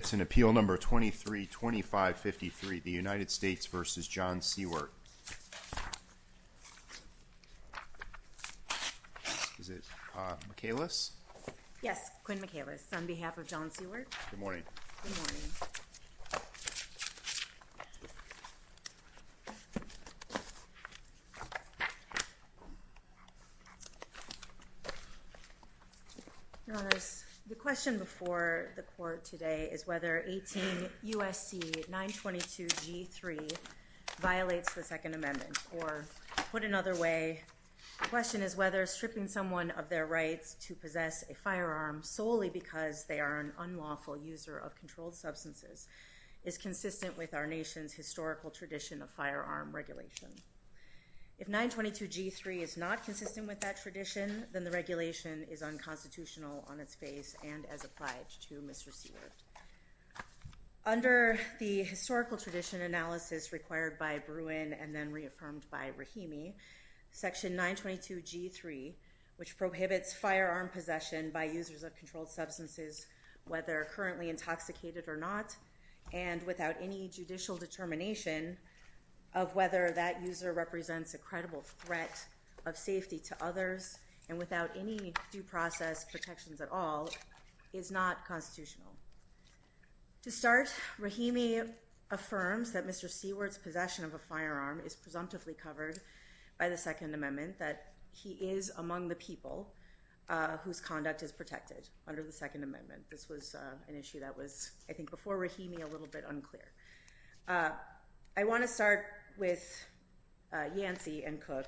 It's in Appeal No. 23-2553, the United States v. John Seiwert. Is it McAlis? Yes, Quinn McAlis on behalf of John Seiwert. Good morning. Good morning. Your Honor, the question before the court today is whether 18 U.S.C. 922-G3 violates the Second Amendment, or put another way, the question is whether stripping someone of their rights to possess a firearm solely because they are an unlawful user of controlled substances is a violation of Section 922-G3's historical tradition of firearm regulation. If 922-G3 is not consistent with that tradition, then the regulation is unconstitutional on its face and as applied to Mr. Seiwert. Under the historical tradition analysis required by Bruin and then reaffirmed by Rahimi, Section 922-G3, which prohibits firearm possession by users of controlled substances, whether they are currently intoxicated or not, and without any judicial determination of whether that user represents a credible threat of safety to others, and without any due process protections at all, is not constitutional. To start, Rahimi affirms that Mr. Seiwert's possession of a firearm is presumptively covered by the Second Amendment, that he is among the people whose conduct is protected under the Second Amendment. This was an issue that was, I think, before Rahimi, a little bit unclear. I want to start with Yancey and Cook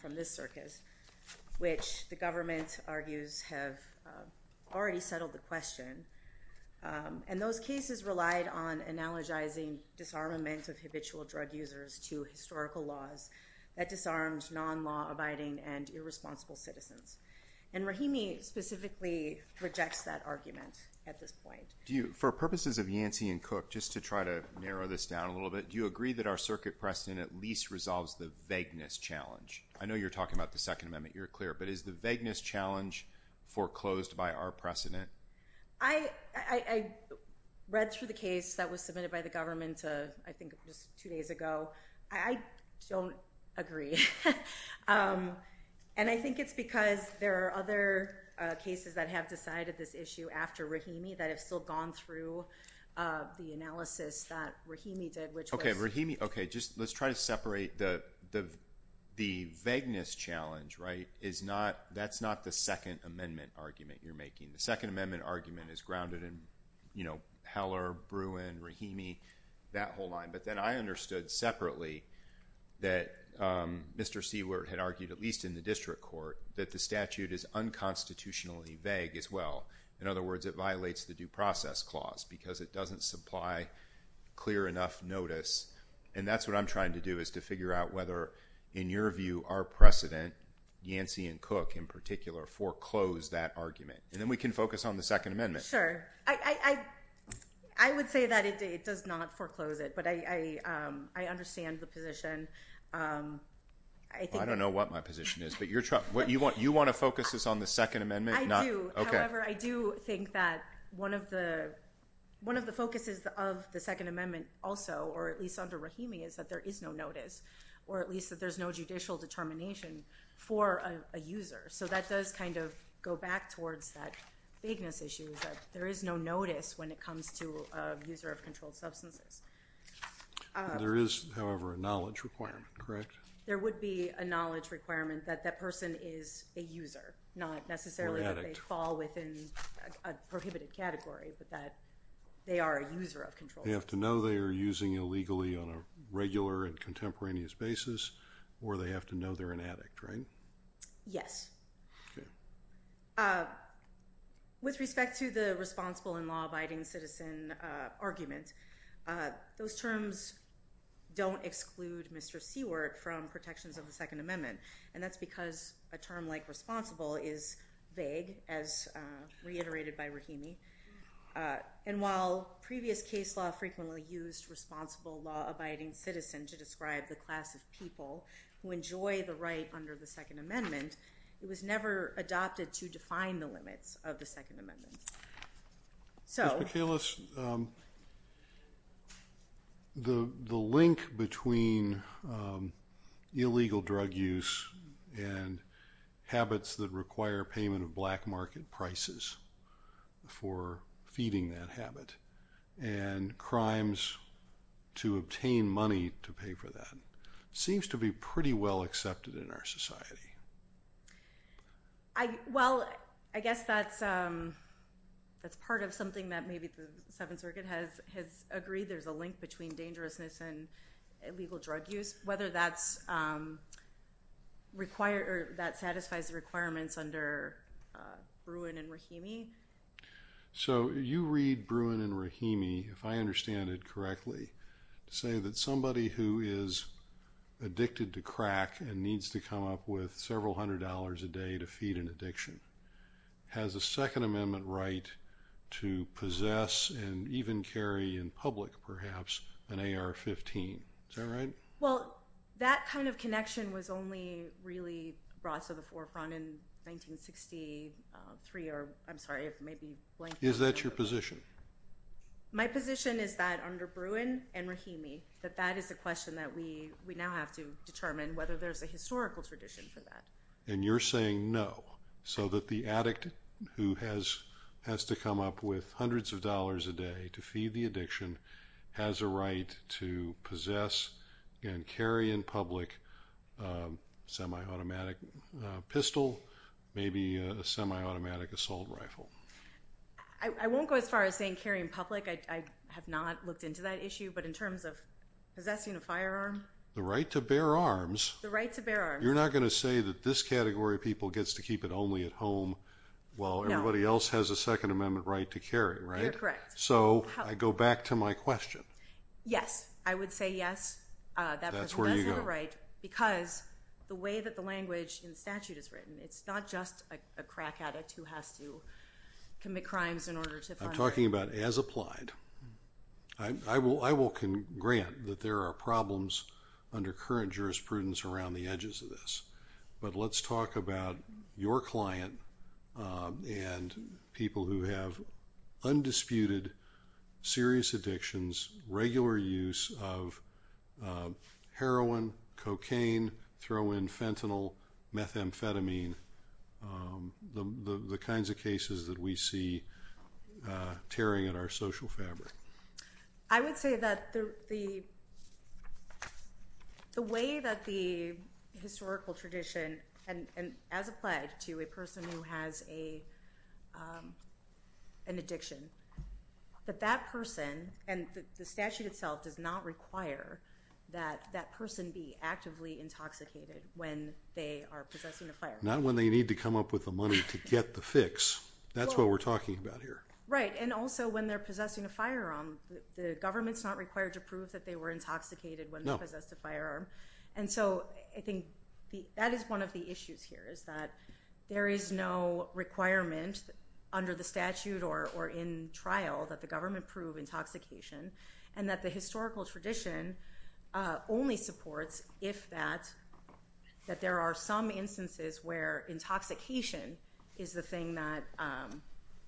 from this circus, which the government argues have already settled the question, and those cases relied on analogizing disarmament of habitual drug users to historical laws that disarmed non-law-abiding and irresponsible citizens. Rahimi specifically rejects that argument at this point. For purposes of Yancey and Cook, just to try to narrow this down a little bit, do you agree that our circuit precedent at least resolves the vagueness challenge? I know you're talking about the Second Amendment, you're clear, but is the vagueness challenge foreclosed by our precedent? I read through the case that was submitted by the government, I think just two days ago. I don't agree. I think it's because there are other cases that have decided this issue after Rahimi that have still gone through the analysis that Rahimi did, which was- Okay, Rahimi, let's try to separate the vagueness challenge, right? That's not the Second Amendment argument you're making. The Second Amendment argument is grounded in Heller, Bruin, Rahimi, that whole line. But then I understood separately that Mr. Seward had argued, at least in the district court, that the statute is unconstitutionally vague as well. In other words, it violates the due process clause because it doesn't supply clear enough notice. And that's what I'm trying to do is to figure out whether, in your view, our precedent, Yancey and Cook in particular, foreclose that argument. And then we can focus on the Second Amendment. Sure. I would say that it does not foreclose it, but I understand the position. I don't know what my position is, but you want to focus this on the Second Amendment? I do. However, I do think that one of the focuses of the Second Amendment also, or at least under Rahimi, is that there is no notice, or at least that there's no judicial determination for a user. So that does kind of go back towards that vagueness issue, that there is no notice when it comes to a user of controlled substances. There is, however, a knowledge requirement, correct? There would be a knowledge requirement that that person is a user, not necessarily that they fall within a prohibited category, but that they are a user of controlled substances. They have to know they are using illegally on a regular and contemporaneous basis, or they have to know they're an addict, right? Yes. With respect to the responsible and law-abiding citizen argument, those terms don't exclude Mr. Seward from protections of the Second Amendment, and that's because a term like responsible is vague, as reiterated by Rahimi. And while previous case law frequently used responsible, law-abiding citizen to describe the class of people who enjoy the right under the Second Amendment, it was never adopted to define the limits of the Second Amendment. Ms. McInnes, the link between illegal drug use and habits that require payment of black market prices for feeding that habit and crimes to obtain money to pay for that seems to be pretty well accepted in our society. Well, I guess that's part of something that maybe the Seventh Circuit has agreed. There's a link between dangerousness and illegal drug use, whether that satisfies the requirements under Bruin and Rahimi. So you read Bruin and Rahimi, if I understand it correctly, say that somebody who is addicted to crack and needs to come up with several hundred dollars a day to feed an addiction has a Second Amendment right to possess and even carry in public, perhaps, an AR-15. Is that right? Well, that kind of connection was only really brought to the forefront in 1963. I'm sorry if it may be blank. Is that your position? My position is that under Bruin and Rahimi, that that is a question that we now have to determine whether there's a historical tradition for that. And you're saying no, so that the addict who has to come up with hundreds of dollars a day to feed the addiction has a right to possess and carry in public a semi-automatic pistol, maybe a semi-automatic assault rifle. I won't go as far as saying carry in public. I have not looked into that issue. But in terms of possessing a firearm? The right to bear arms. The right to bear arms. You're not going to say that this category of people gets to keep it only at home while everybody else has a Second Amendment right to carry, right? You're correct. So I go back to my question. Yes. I would say yes, that person has the right. That's where you go. Because the way that the language in statute is written, it's not just a crack addict who has to commit crimes in order to find— I'm talking about as applied. I will grant that there are problems under current jurisprudence around the edges of this. But let's talk about your client and people who have undisputed, serious addictions, regular use of heroin, cocaine, throw in fentanyl, methamphetamine, the kinds of cases that we see tearing at our social fabric. I would say that the way that the historical tradition, and as applied to a person who has an addiction, that that person, and the statute itself does not require that that person be actively intoxicated when they are possessing a firearm. Not when they need to come up with the money to get the fix. That's what we're talking about here. Right, and also when they're possessing a firearm, the government's not required to prove that they were intoxicated when they possessed a firearm. And so I think that is one of the issues here, is that there is no requirement under the statute or in trial that the government prove intoxication, and that the historical tradition only supports if that there are some instances where intoxication is the thing that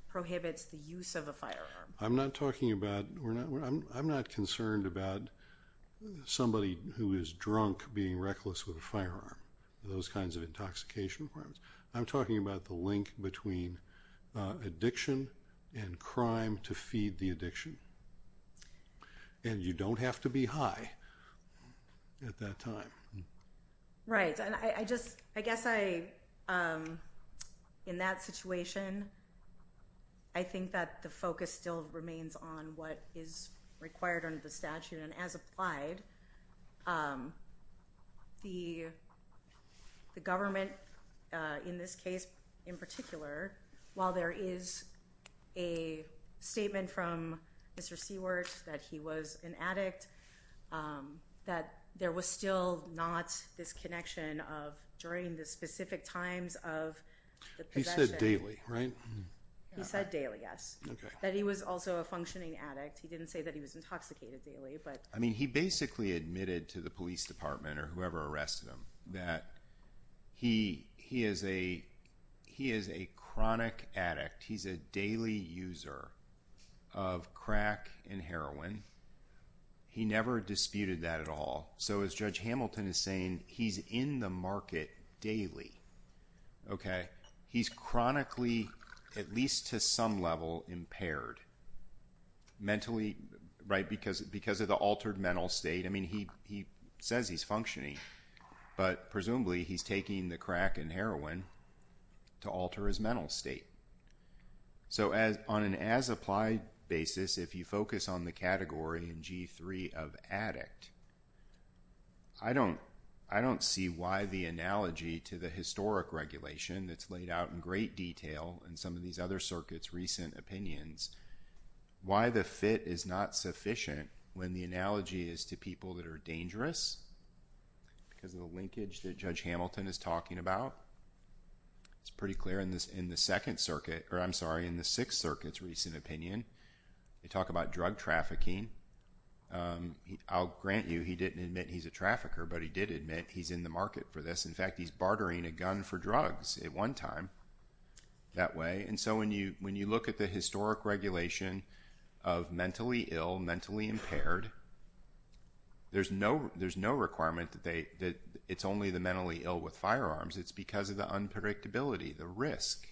prohibits the use of a firearm. I'm not concerned about somebody who is drunk being reckless with a firearm. Those kinds of intoxication requirements. I'm talking about the link between addiction and crime to feed the addiction. And you don't have to be high at that time. Right, and I guess in that situation, I think that the focus still remains on what is required under the statute, and as applied, the government in this case in particular, while there is a statement from Mr. Seward that he was an addict, that there was still not this connection of during the specific times of the possession. He said daily, right? He said daily, yes. That he was also a functioning addict. He didn't say that he was intoxicated daily. I mean, he basically admitted to the police department or whoever arrested him that he is a chronic addict. He's a daily user of crack and heroin. He never disputed that at all. So as Judge Hamilton is saying, he's in the market daily. He's chronically, at least to some level, impaired. Mentally, right, because of the altered mental state. I mean, he says he's functioning, but presumably he's taking the crack and heroin to alter his mental state. So on an as-applied basis, if you focus on the category in G3 of addict, I don't see why the analogy to the historic regulation that's laid out in great detail in some of these other circuits' recent opinions, why the fit is not sufficient when the analogy is to people that are dangerous, because of the linkage that Judge Hamilton is talking about. It's pretty clear in the Sixth Circuit's recent opinion. They talk about drug trafficking. I'll grant you he didn't admit he's a trafficker, but he did admit he's in the market for this. In fact, he's bartering a gun for drugs at one time. That way, and so when you look at the historic regulation of mentally ill, mentally impaired, there's no requirement that it's only the mentally ill with firearms. It's because of the unpredictability, the risk.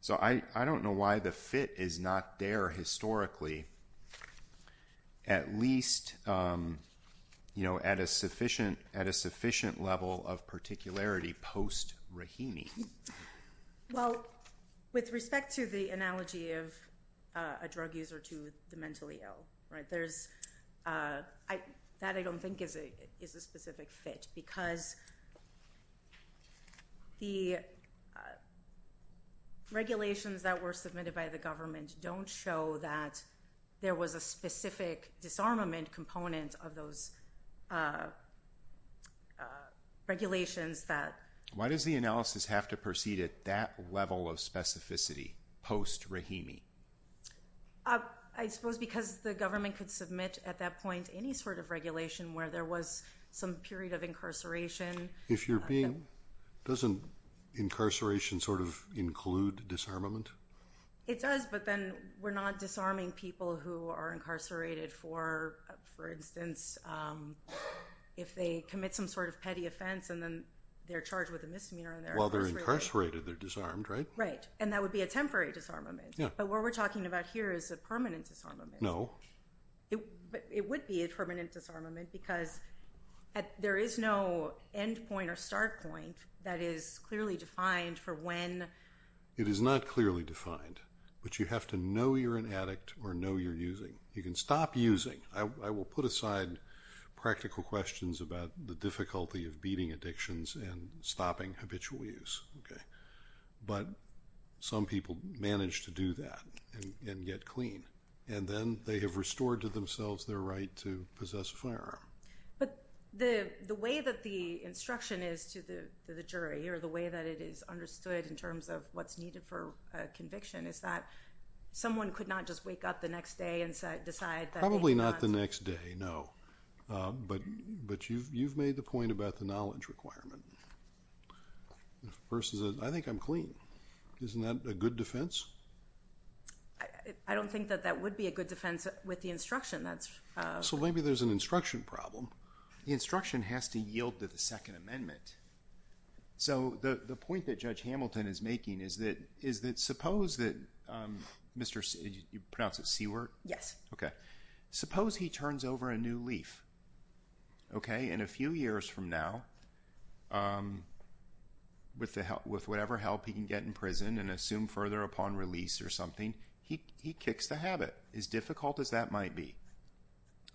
So I don't know why the fit is not there historically, at least at a sufficient level of particularity post-Rahimi. Well, with respect to the analogy of a drug user to the mentally ill, that I don't think is a specific fit, because the regulations that were submitted by the government don't show that there was a specific disarmament component of those regulations. Why does the analysis have to proceed at that level of specificity post-Rahimi? I suppose because the government could submit at that point any sort of regulation where there was some period of incarceration. Doesn't incarceration sort of include disarmament? It does, but then we're not disarming people who are incarcerated for, for instance, if they commit some sort of petty offense and then they're charged with a misdemeanor and they're incarcerated. Well, they're incarcerated, they're disarmed, right? Right, and that would be a temporary disarmament. But what we're talking about here is a permanent disarmament. No. It would be a permanent disarmament because there is no end point or start point that is clearly defined for when— it is not clearly defined, but you have to know you're an addict or know you're using. You can stop using. I will put aside practical questions about the difficulty of beating addictions and stopping habitual use, okay? But some people manage to do that and get clean, and then they have restored to themselves their right to possess a firearm. But the way that the instruction is to the jury or the way that it is understood in terms of what's needed for conviction is that someone could not just wake up the next day and decide that they had not— Probably not the next day, no. But you've made the point about the knowledge requirement versus a, I think I'm clean, isn't that a good defense? I don't think that that would be a good defense with the instruction that's— So maybe there's an instruction problem. The instruction has to yield to the Second Amendment. So the point that Judge Hamilton is making is that suppose that Mr.— You pronounce it Seward? Yes. Okay. Suppose he turns over a new leaf, okay? And a few years from now, with whatever help he can get in prison and assumed further upon release or something, he kicks the habit, as difficult as that might be,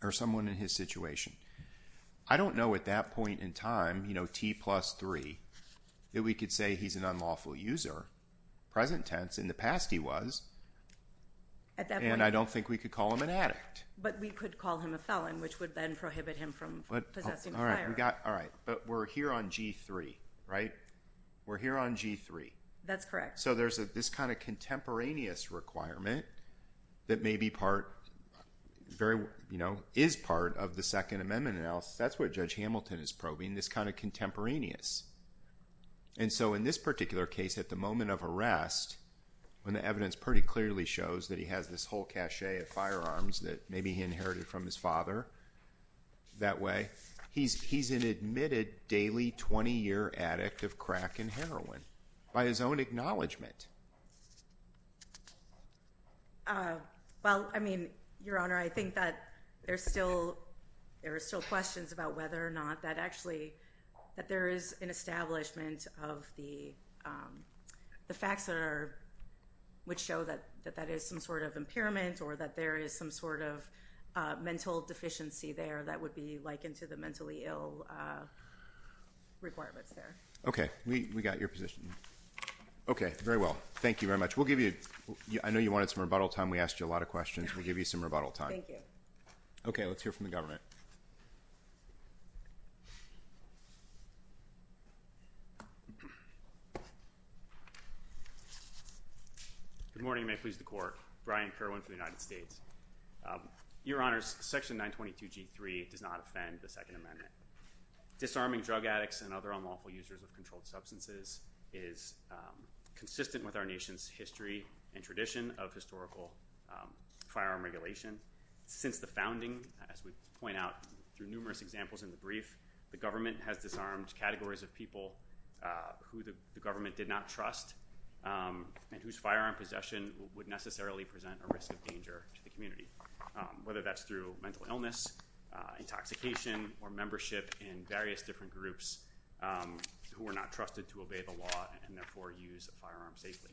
or someone in his situation. I don't know at that point in time, T plus three, that we could say he's an unlawful user, present tense, in the past he was, and I don't think we could call him an addict. But we could call him a felon, which would then prohibit him from possessing a firearm. But we're here on G3, right? We're here on G3. That's correct. So there's this kind of contemporaneous requirement that may be part— is part of the Second Amendment. That's what Judge Hamilton is probing, this kind of contemporaneous. And so in this particular case, at the moment of arrest, when the evidence pretty clearly shows that he has this whole cachet of firearms that maybe he inherited from his father that way, he's an admitted daily 20-year addict of crack and heroin. By his own acknowledgment. Well, I mean, Your Honor, I think that there's still— there are still questions about whether or not that actually— that there is an establishment of the facts that are— which show that that is some sort of impairment or that there is some sort of mental deficiency there that would be likened to the mentally ill requirements there. Okay, we got your position. Okay, very well. Thank you very much. We'll give you—I know you wanted some rebuttal time. We asked you a lot of questions. We'll give you some rebuttal time. Thank you. Okay, let's hear from the government. Good morning, and may it please the Court. Brian Kerwin for the United States. Your Honors, Section 922G3 does not offend the Second Amendment. Disarming drug addicts and other unlawful users of controlled substances is consistent with our nation's history and tradition of historical firearm regulation. Since the founding, as we point out through numerous examples in the brief, the government has disarmed categories of people who the government did not trust and whose firearm possession would necessarily present a risk of danger to the community, whether that's through mental illness, intoxication, or membership in various different groups who are not trusted to obey the law and therefore use a firearm safely.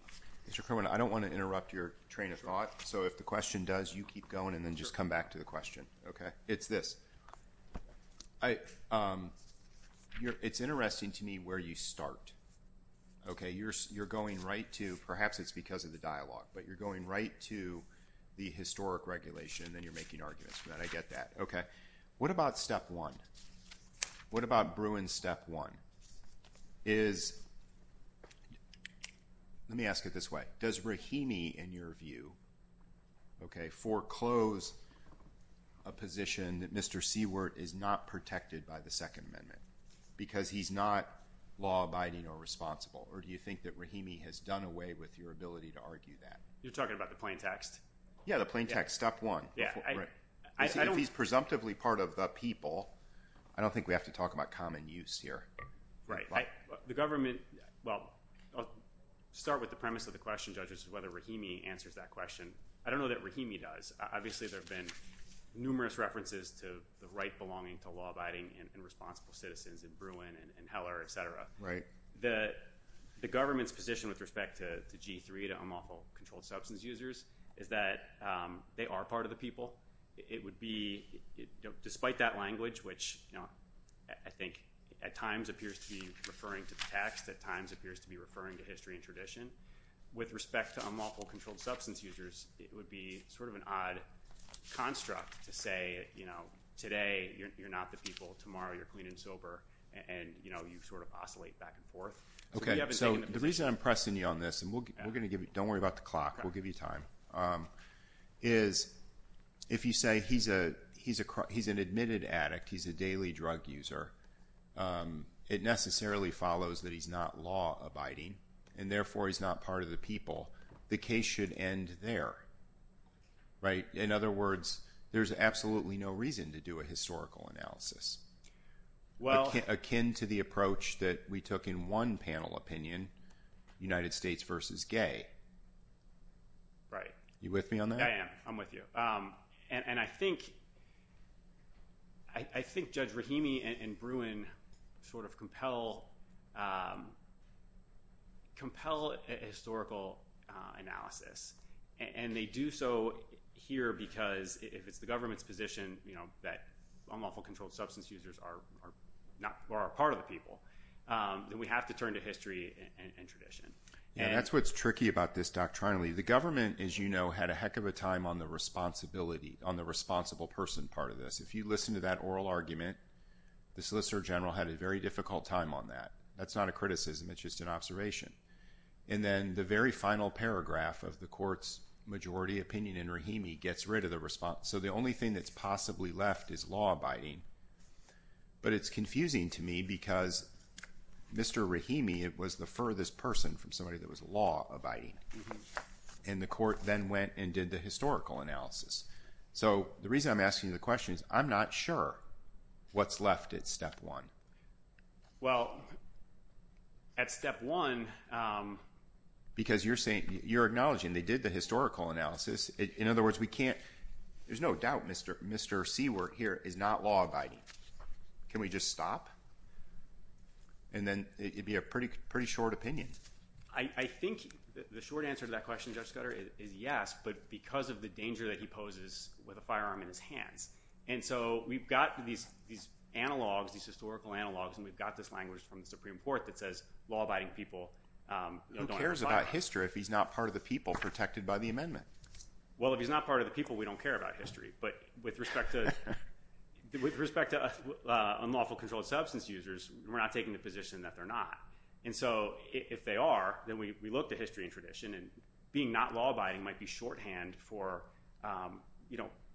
Mr. Kerwin, I don't want to interrupt your train of thought, so if the question does, you keep going and then just come back to the question. It's this. It's interesting to me where you start. Okay? You're going right to—perhaps it's because of the dialogue, but you're going right to the historic regulation, and then you're making arguments for that. I get that. Okay. What about step one? What about Bruin's step one? Is— Let me ask it this way. Does Rahimi, in your view, foreclose a position that Mr. Seaworth is not protected by the Second Amendment because he's not law-abiding or responsible, or do you think that Rahimi has done away with your ability to argue that? You're talking about the plain text? Yeah, the plain text. Step one. Yeah, I don't— You see, if he's presumptively part of the people, I don't think we have to talk about common use here. Right. The government—well, I'll start with the premise of the question, judges, whether Rahimi answers that question. I don't know that Rahimi does. Obviously, there have been numerous references to the right belonging to law-abiding and responsible citizens in Bruin and Heller, et cetera. Right. The government's position with respect to G3, to unlawful controlled substance users, is that they are part of the people. It would be—despite that language, which I think at times appears to be referring to the text, at times appears to be referring to history and tradition, with respect to unlawful controlled substance users, it would be sort of an odd construct to say, you know, today you're not the people, tomorrow you're clean and sober, and, you know, you sort of oscillate back and forth. Okay. So the reason I'm pressing you on this, and we're going to give you— don't worry about the clock, we'll give you time, is if you say he's an admitted addict, he's a daily drug user, it necessarily follows that he's not law-abiding, and therefore he's not part of the people. The case should end there. Right? In other words, there's absolutely no reason to do a historical analysis. Well— Akin to the approach that we took in one panel opinion, United States versus gay. Right. You with me on that? I am. I'm with you. And I think Judge Rahimi and Bruin sort of compel historical analysis, and they do so here because if it's the government's position, you know, that unlawful controlled substance users are part of the people, then we have to turn to history and tradition. Yeah, that's what's tricky about this doctrinally. The government, as you know, had a heck of a time on the responsibility, on the responsible person part of this. If you listen to that oral argument, the Solicitor General had a very difficult time on that. That's not a criticism, it's just an observation. And then the very final paragraph of the court's majority opinion in Rahimi gets rid of the response. So the only thing that's possibly left is law abiding. But it's confusing to me because Mr. Rahimi was the furthest person from somebody that was law abiding. And the court then went and did the historical analysis. So the reason I'm asking you the question is I'm not sure what's left at step one. Well, at step one— Because you're acknowledging they did the historical analysis. In other words, we can't— There's no doubt Mr. Seward here is not law abiding. Can we just stop? And then it would be a pretty short opinion. I think the short answer to that question, Judge Scudder, is yes, but because of the danger that he poses with a firearm in his hands. And so we've got these analogs, these historical analogs, and we've got this language from the Supreme Court that says law abiding people don't have a firearm. Well, if he's not part of the people, we don't care about history. But with respect to unlawful controlled substance users, we're not taking the position that they're not. And so if they are, then we look to history and tradition. And being not law abiding might be shorthand for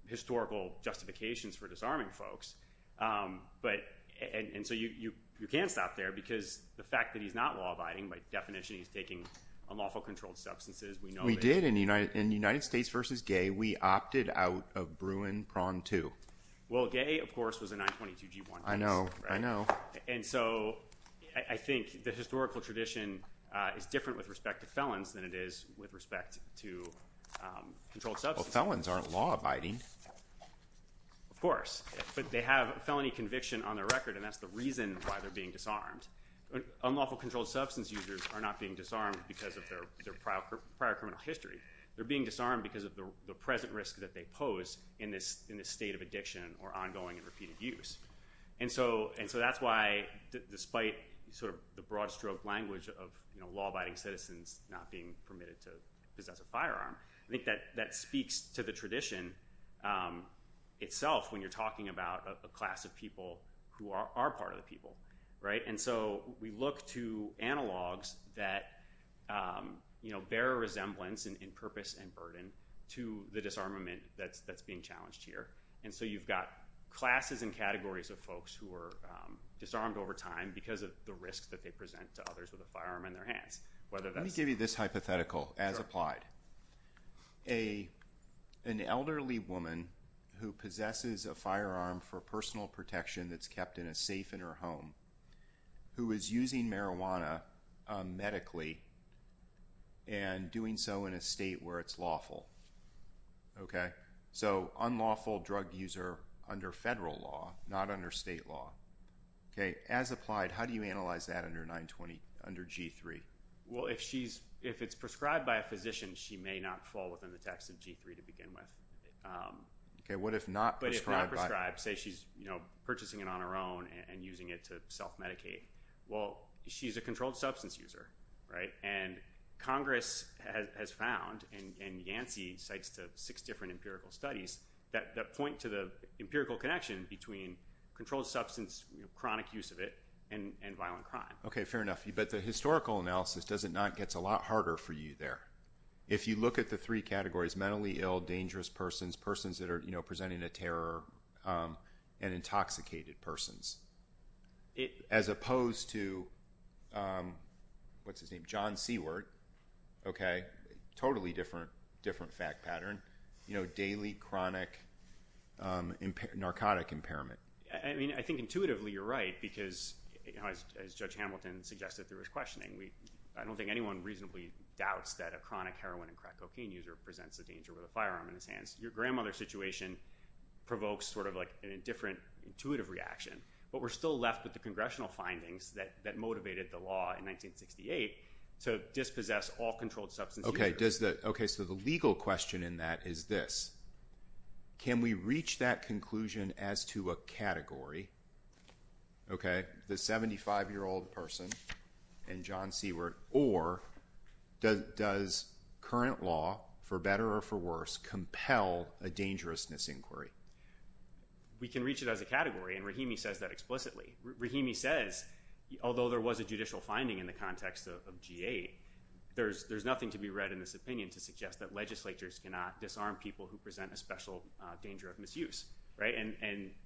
historical justifications for disarming folks. And so you can't stop there because the fact that he's not law abiding, by definition he's taking unlawful controlled substances, we know that. We did in United States v. Gay, we opted out of Bruin, Prawn 2. Well, Gay, of course, was a 922-G1 case. I know. I know. And so I think the historical tradition is different with respect to felons than it is with respect to controlled substances. Well, felons aren't law abiding. Of course. But they have a felony conviction on their record, and that's the reason why they're being disarmed. Unlawful controlled substance users are not being disarmed because of their prior criminal history. They're being disarmed because of the present risk that they pose in this state of addiction or ongoing and repeated use. And so that's why, despite the broad stroke language of law abiding citizens not being permitted to possess a firearm, I think that speaks to the tradition itself when you're talking about a class of people who are part of the people. And so we look to analogs that bear a resemblance in purpose and burden to the disarmament that's being challenged here. And so you've got classes and categories of folks who are disarmed over time because of the risks that they present to others with a firearm in their hands. Let me give you this hypothetical as applied. An elderly woman who possesses a firearm for personal protection that's kept in a safe in her home who is using marijuana medically and doing so in a state where it's lawful. So unlawful drug user under federal law, not under state law. As applied, how do you analyze that under G-3? Well, if it's prescribed by a physician, she may not fall within the text of G-3 to begin with. But if not prescribed, say she's purchasing it on her own and using it to self-medicate. Well, she's a controlled substance user, right? And Congress has found, and Yancey cites six different empirical studies that point to the empirical connection between controlled substance, chronic use of it, and violent crime. Okay, fair enough. But the historical analysis, does it not get a lot harder for you there? If you look at the three categories, mentally ill, dangerous persons, persons that are presenting a terror, and intoxicated persons. As opposed to, what's his name, John Seward. Okay, totally different fact pattern. Daily, chronic, narcotic impairment. I mean, I think intuitively you're right because, as Judge Hamilton suggested through his questioning, I don't think anyone reasonably doubts that a chronic heroin and crack cocaine user presents a danger with a firearm in his hands. Your grandmother situation provokes sort of like an indifferent, intuitive reaction. But we're still left with the Congressional findings that motivated the law in 1968 to dispossess all controlled substance users. Okay, so the legal question in that is this. Can we reach that conclusion as to a category, okay, the 75-year-old person and John Seward, or does current law, for better or for worse, compel a dangerousness inquiry? We can reach it as a category, and Rahimi says that explicitly. Rahimi says, although there was a judicial finding in the context of GA, there's nothing to be read in this opinion to suggest that legislatures cannot disarm people who present a special danger of misuse. And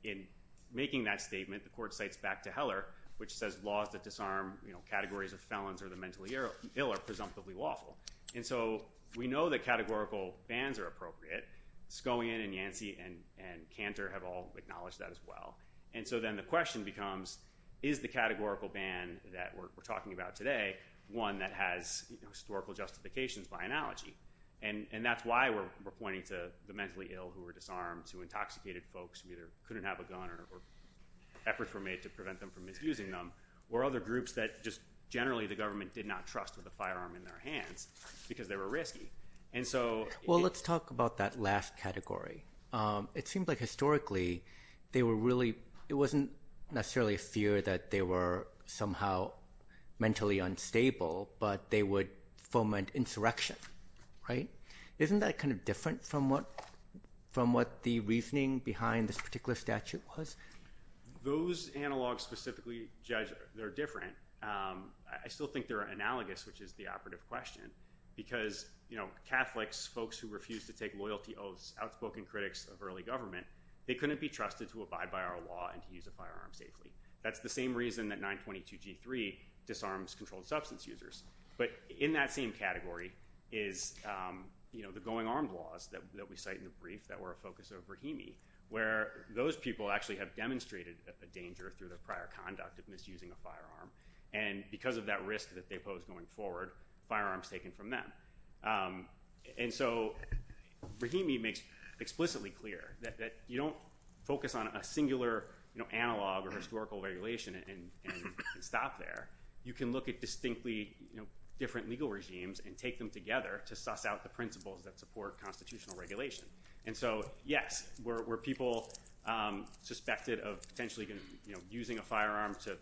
in making that statement, the court cites back to Heller, which says laws that disarm categories of felons or the mentally ill are presumptively lawful. And so we know that categorical bans are appropriate. Skowian and Yancey and Cantor have all acknowledged that as well. And so then the question becomes, is the categorical ban that we're talking about today one that has historical justifications by analogy? And that's why we're pointing to the mentally ill who were disarmed, to intoxicated folks who either couldn't have a gun or efforts were made to prevent them from abusing them, or other groups that just generally the government did not trust with a firearm in their hands because they were risky. Well, let's talk about that last category. It seems like historically it wasn't necessarily a fear that they were somehow mentally unstable, but they would foment insurrection. Isn't that kind of different from what the reasoning behind this particular statute was? Those analogs specifically judge they're different. I still think they're analogous, which is the operative question, because Catholics, folks who refuse to take loyalty oaths, outspoken critics of early government, they couldn't be trusted to abide by our law and to use a firearm safely. That's the same reason that 922G3 disarms controlled substance users. But in that same category is the going armed laws that we cite in the brief that were a focus of Brahimi, where those people actually have demonstrated the danger through their prior conduct of misusing a firearm. And because of that risk that they posed going forward, firearms taken from them. And so Brahimi makes explicitly clear that you don't focus on a singular analog or historical regulation and stop there. You can look at distinctly different legal regimes and take them together to suss out the principles that support constitutional regulation. And so, yes, were people suspected of potentially using a firearm to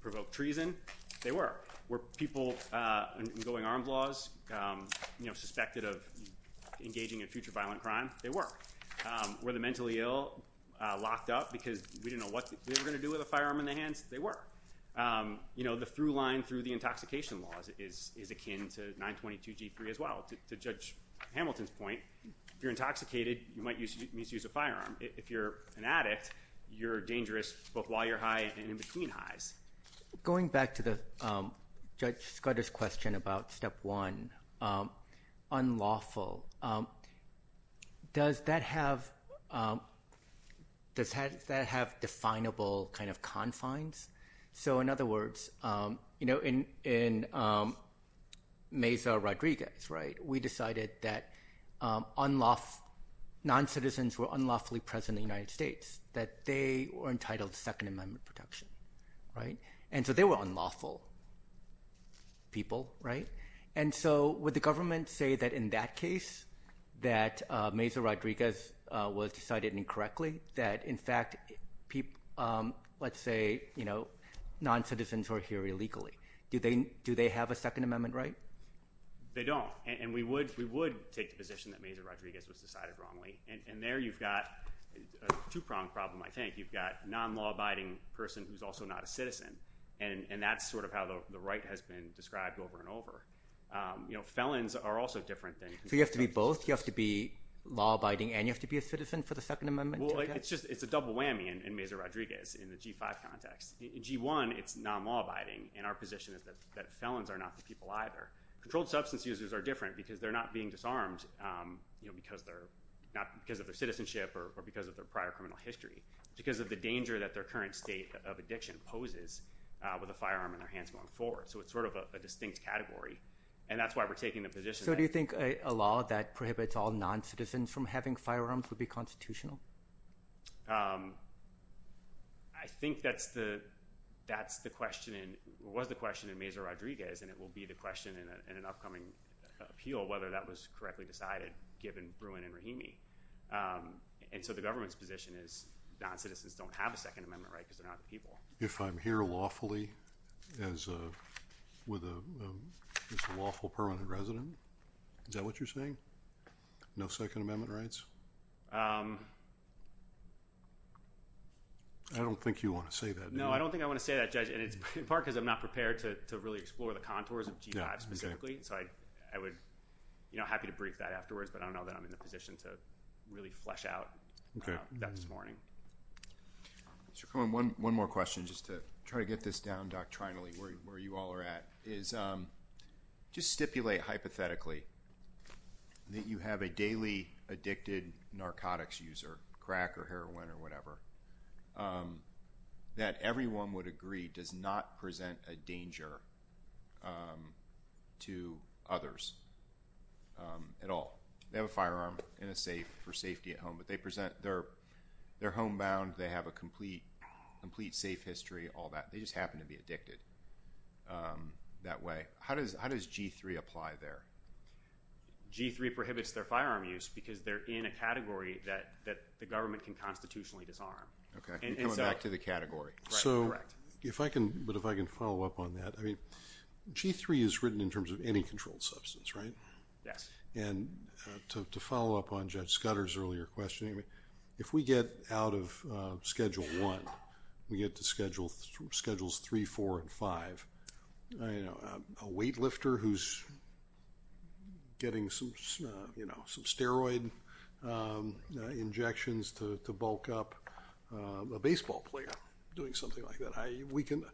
provoke treason? They were. Were people going armed laws suspected of engaging in future violent crime? They were. Were the mentally ill locked up because we didn't know what they were going to do with a firearm in their hands? They were. You know, the through line through the intoxication laws is akin to 922G3 as well. To Judge Hamilton's point, if you're intoxicated, you might misuse a firearm. If you're an addict, you're dangerous while you're high and in between highs. Going back to the Judge Scudder's question about step one, unlawful. Does that have does that have definable kind of confines? So in other words, you know, in in Mesa Rodriguez, right, we decided that unlawful non-citizens were unlawfully present in the United States, that they were entitled to Second Amendment protection. Right. And so they were unlawful. People. Right. And so would the government say that in that case, that Mesa Rodriguez was decided incorrectly, that, in fact, people, let's say, you know, non-citizens are here illegally. Do they do they have a Second Amendment right? They don't. And we would we would take the position that Mesa Rodriguez was decided wrongly. And there you've got a two pronged problem. I think you've got non-law abiding person who's also not a citizen. And that's sort of how the right has been described over and over. You know, felons are also different. So you have to be both. You have to be law abiding and you have to be a citizen for the Second Amendment. Well, it's just it's a double whammy. And Mesa Rodriguez in the G5 context, G1, it's non-law abiding. And our position is that felons are not the people either. Controlled substance users are different because they're not being disarmed because they're not because of their citizenship or because of their prior criminal history, because of the danger that their current state of addiction poses with a firearm in their hands going forward. So it's sort of a distinct category. And that's why we're taking the position. So do you think a law that prohibits all non-citizens from having firearms would be constitutional? I think that's the that's the question and was the question in Mesa Rodriguez. And it will be the question in an upcoming appeal whether that was correctly decided, given Bruin and Rahimi. And so the government's position is non-citizens don't have a Second Amendment right because they're not the people. If I'm here lawfully as with a lawful permanent resident, is that what you're saying? No Second Amendment rights? I don't think you want to say that. No, I don't think I want to say that, Judge. And it's in part because I'm not prepared to really explore the contours of G5 specifically. So I would be happy to brief that afterwards. But I don't know that I'm in the position to really flesh out that this morning. One more question just to try to get this down doctrinally where you all are at is just stipulate hypothetically. That you have a daily addicted narcotics user crack or heroin or whatever that everyone would agree does not present a danger to others at all. They have a firearm in a safe for safety at home, but they present their their homebound. They have a complete, complete safe history, all that. They just happen to be addicted that way. How does G3 apply there? G3 prohibits their firearm use because they're in a category that the government can constitutionally disarm. Coming back to the category. But if I can follow up on that. G3 is written in terms of any controlled substance, right? Yes. And to follow up on Judge Scudder's earlier question, if we get out of Schedule 1, we get to Schedules 3, 4, and 5. A weightlifter who's getting some steroid injections to bulk up a baseball player doing something like that.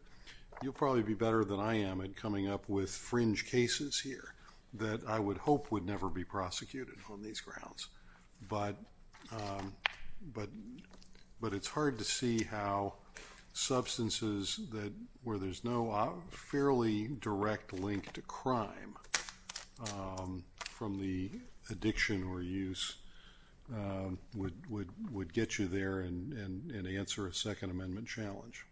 You'll probably be better than I am at coming up with fringe cases here that I would hope would never be prosecuted on these grounds. But it's hard to see how substances where there's no fairly direct link to crime from the addiction or use would get you there and answer a Second Amendment challenge.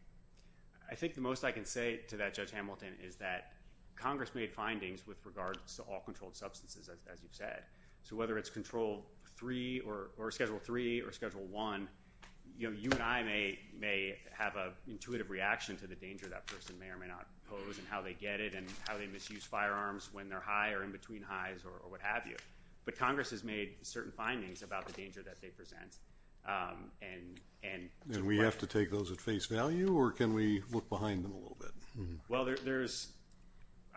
I think the most I can say to that, Judge Hamilton, is that Congress made findings with regards to all controlled substances, as you've said. So whether it's Control 3 or Schedule 3 or Schedule 1, you and I may have an intuitive reaction to the danger that person may or may not pose and how they get it and how they misuse firearms when they're high or in between highs or what have you. But Congress has made certain findings about the danger that they present. And we have to take those at face value or can we look behind them a little bit? Well,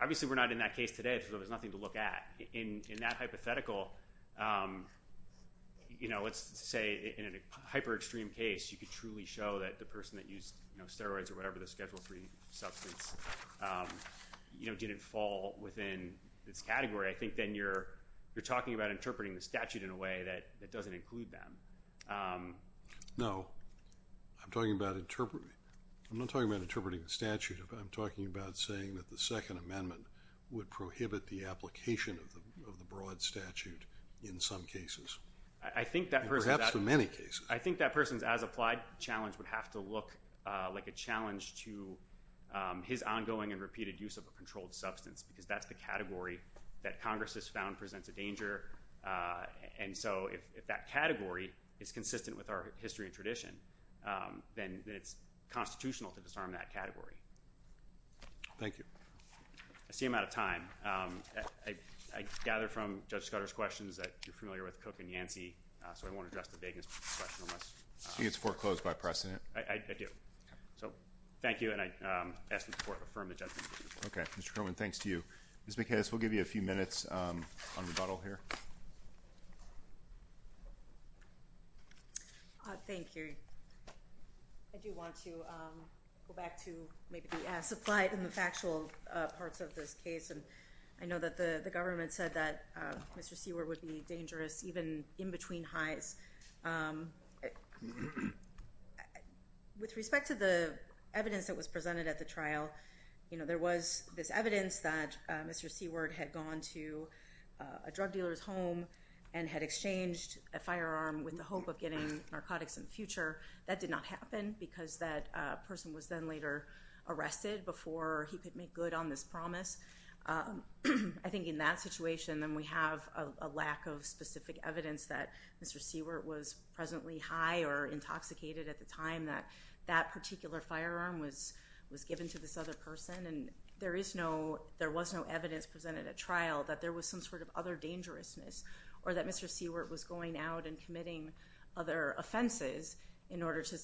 obviously we're not in that case today because there's nothing to look at. But in that hypothetical, let's say in a hyper-extreme case, you could truly show that the person that used steroids or whatever, the Schedule 3 substance, didn't fall within this category. I think then you're talking about interpreting the statute in a way that doesn't include them. No. I'm not talking about interpreting the statute. I'm talking about saying that the Second Amendment would prohibit the application of the broad statute in some cases. Perhaps in many cases. I think that person's as-applied challenge would have to look like a challenge to his ongoing and repeated use of a controlled substance because that's the category that Congress has found presents a danger. And so if that category is consistent with our history and tradition, then it's constitutional to disarm that category. Thank you. I see I'm out of time. I gather from Judge Scudder's questions that you're familiar with Cook and Yancey, so I won't address the vagueness of the question. She gets foreclosed by precedent. I do. So, thank you, and I ask the Court to affirm the judgment. Okay. Mr. Kerman, thanks to you. Ms. McHaz, we'll give you a few minutes on rebuttal here. Thank you. I do want to go back to maybe the as-applied and the factual parts of this case, and I know that the government said that Mr. Seward would be dangerous even in between highs. With respect to the evidence that was presented at the trial, there was this evidence that Mr. Seward had gone to a drug dealer's home and had exchanged a firearm with the hope of getting narcotics in the future. That did not happen because that person was then later arrested before he could make good on this promise. I think in that situation, then, we have a lack of specific evidence that Mr. Seward was presently high or intoxicated at the time that that particular firearm was given to this other person, and there was no evidence presented at trial that there was some sort of other dangerousness or that Mr. Seward was going out and committing other offenses in order to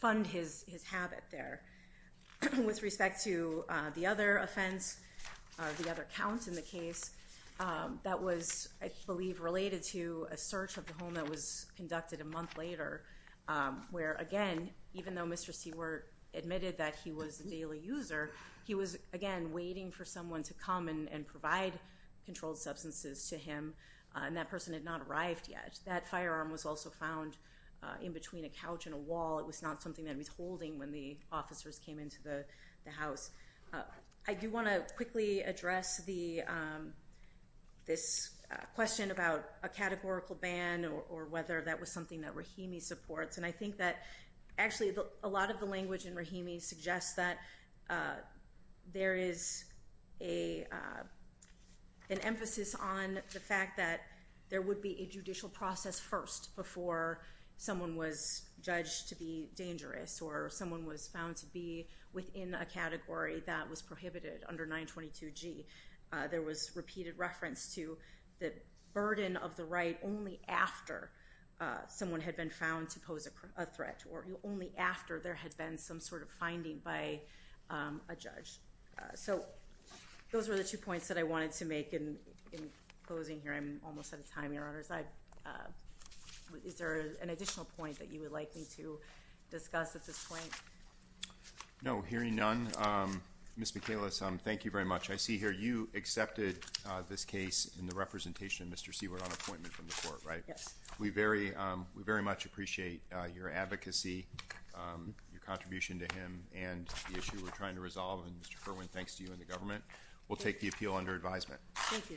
fund his habit there. With respect to the other offense, the other count in the case, that was, I believe, related to a search of the home that was conducted a month later, where, again, even though Mr. Seward admitted that he was a daily user, he was, again, waiting for someone to come and provide controlled substances to him, and that person had not arrived yet. That firearm was also found in between a couch and a wall. It was not something that he was holding when the officers came into the house. I do want to quickly address this question about a categorical ban or whether that was something that Rahimi supports, and I think that actually a lot of the language in Rahimi suggests that there is an emphasis on the fact that there would be a judicial process first before someone was judged to be dangerous or someone was found to be within a category that was prohibited under 922G. There was repeated reference to the burden of the right only after someone had been found to pose a threat or only after there had been some sort of finding by a judge. So those were the two points that I wanted to make in closing here. I'm almost out of time, Your Honors. Is there an additional point that you would like me to discuss at this point? No, hearing none, Ms. Michalis, thank you very much. I see here you accepted this case in the representation of Mr. Seward on appointment from the court, right? We very much appreciate your advocacy, your contribution to him, and the issue we're trying to resolve. And, Mr. Kerwin, thanks to you and the government, we'll take the appeal under advisement. Thank you. Thank you.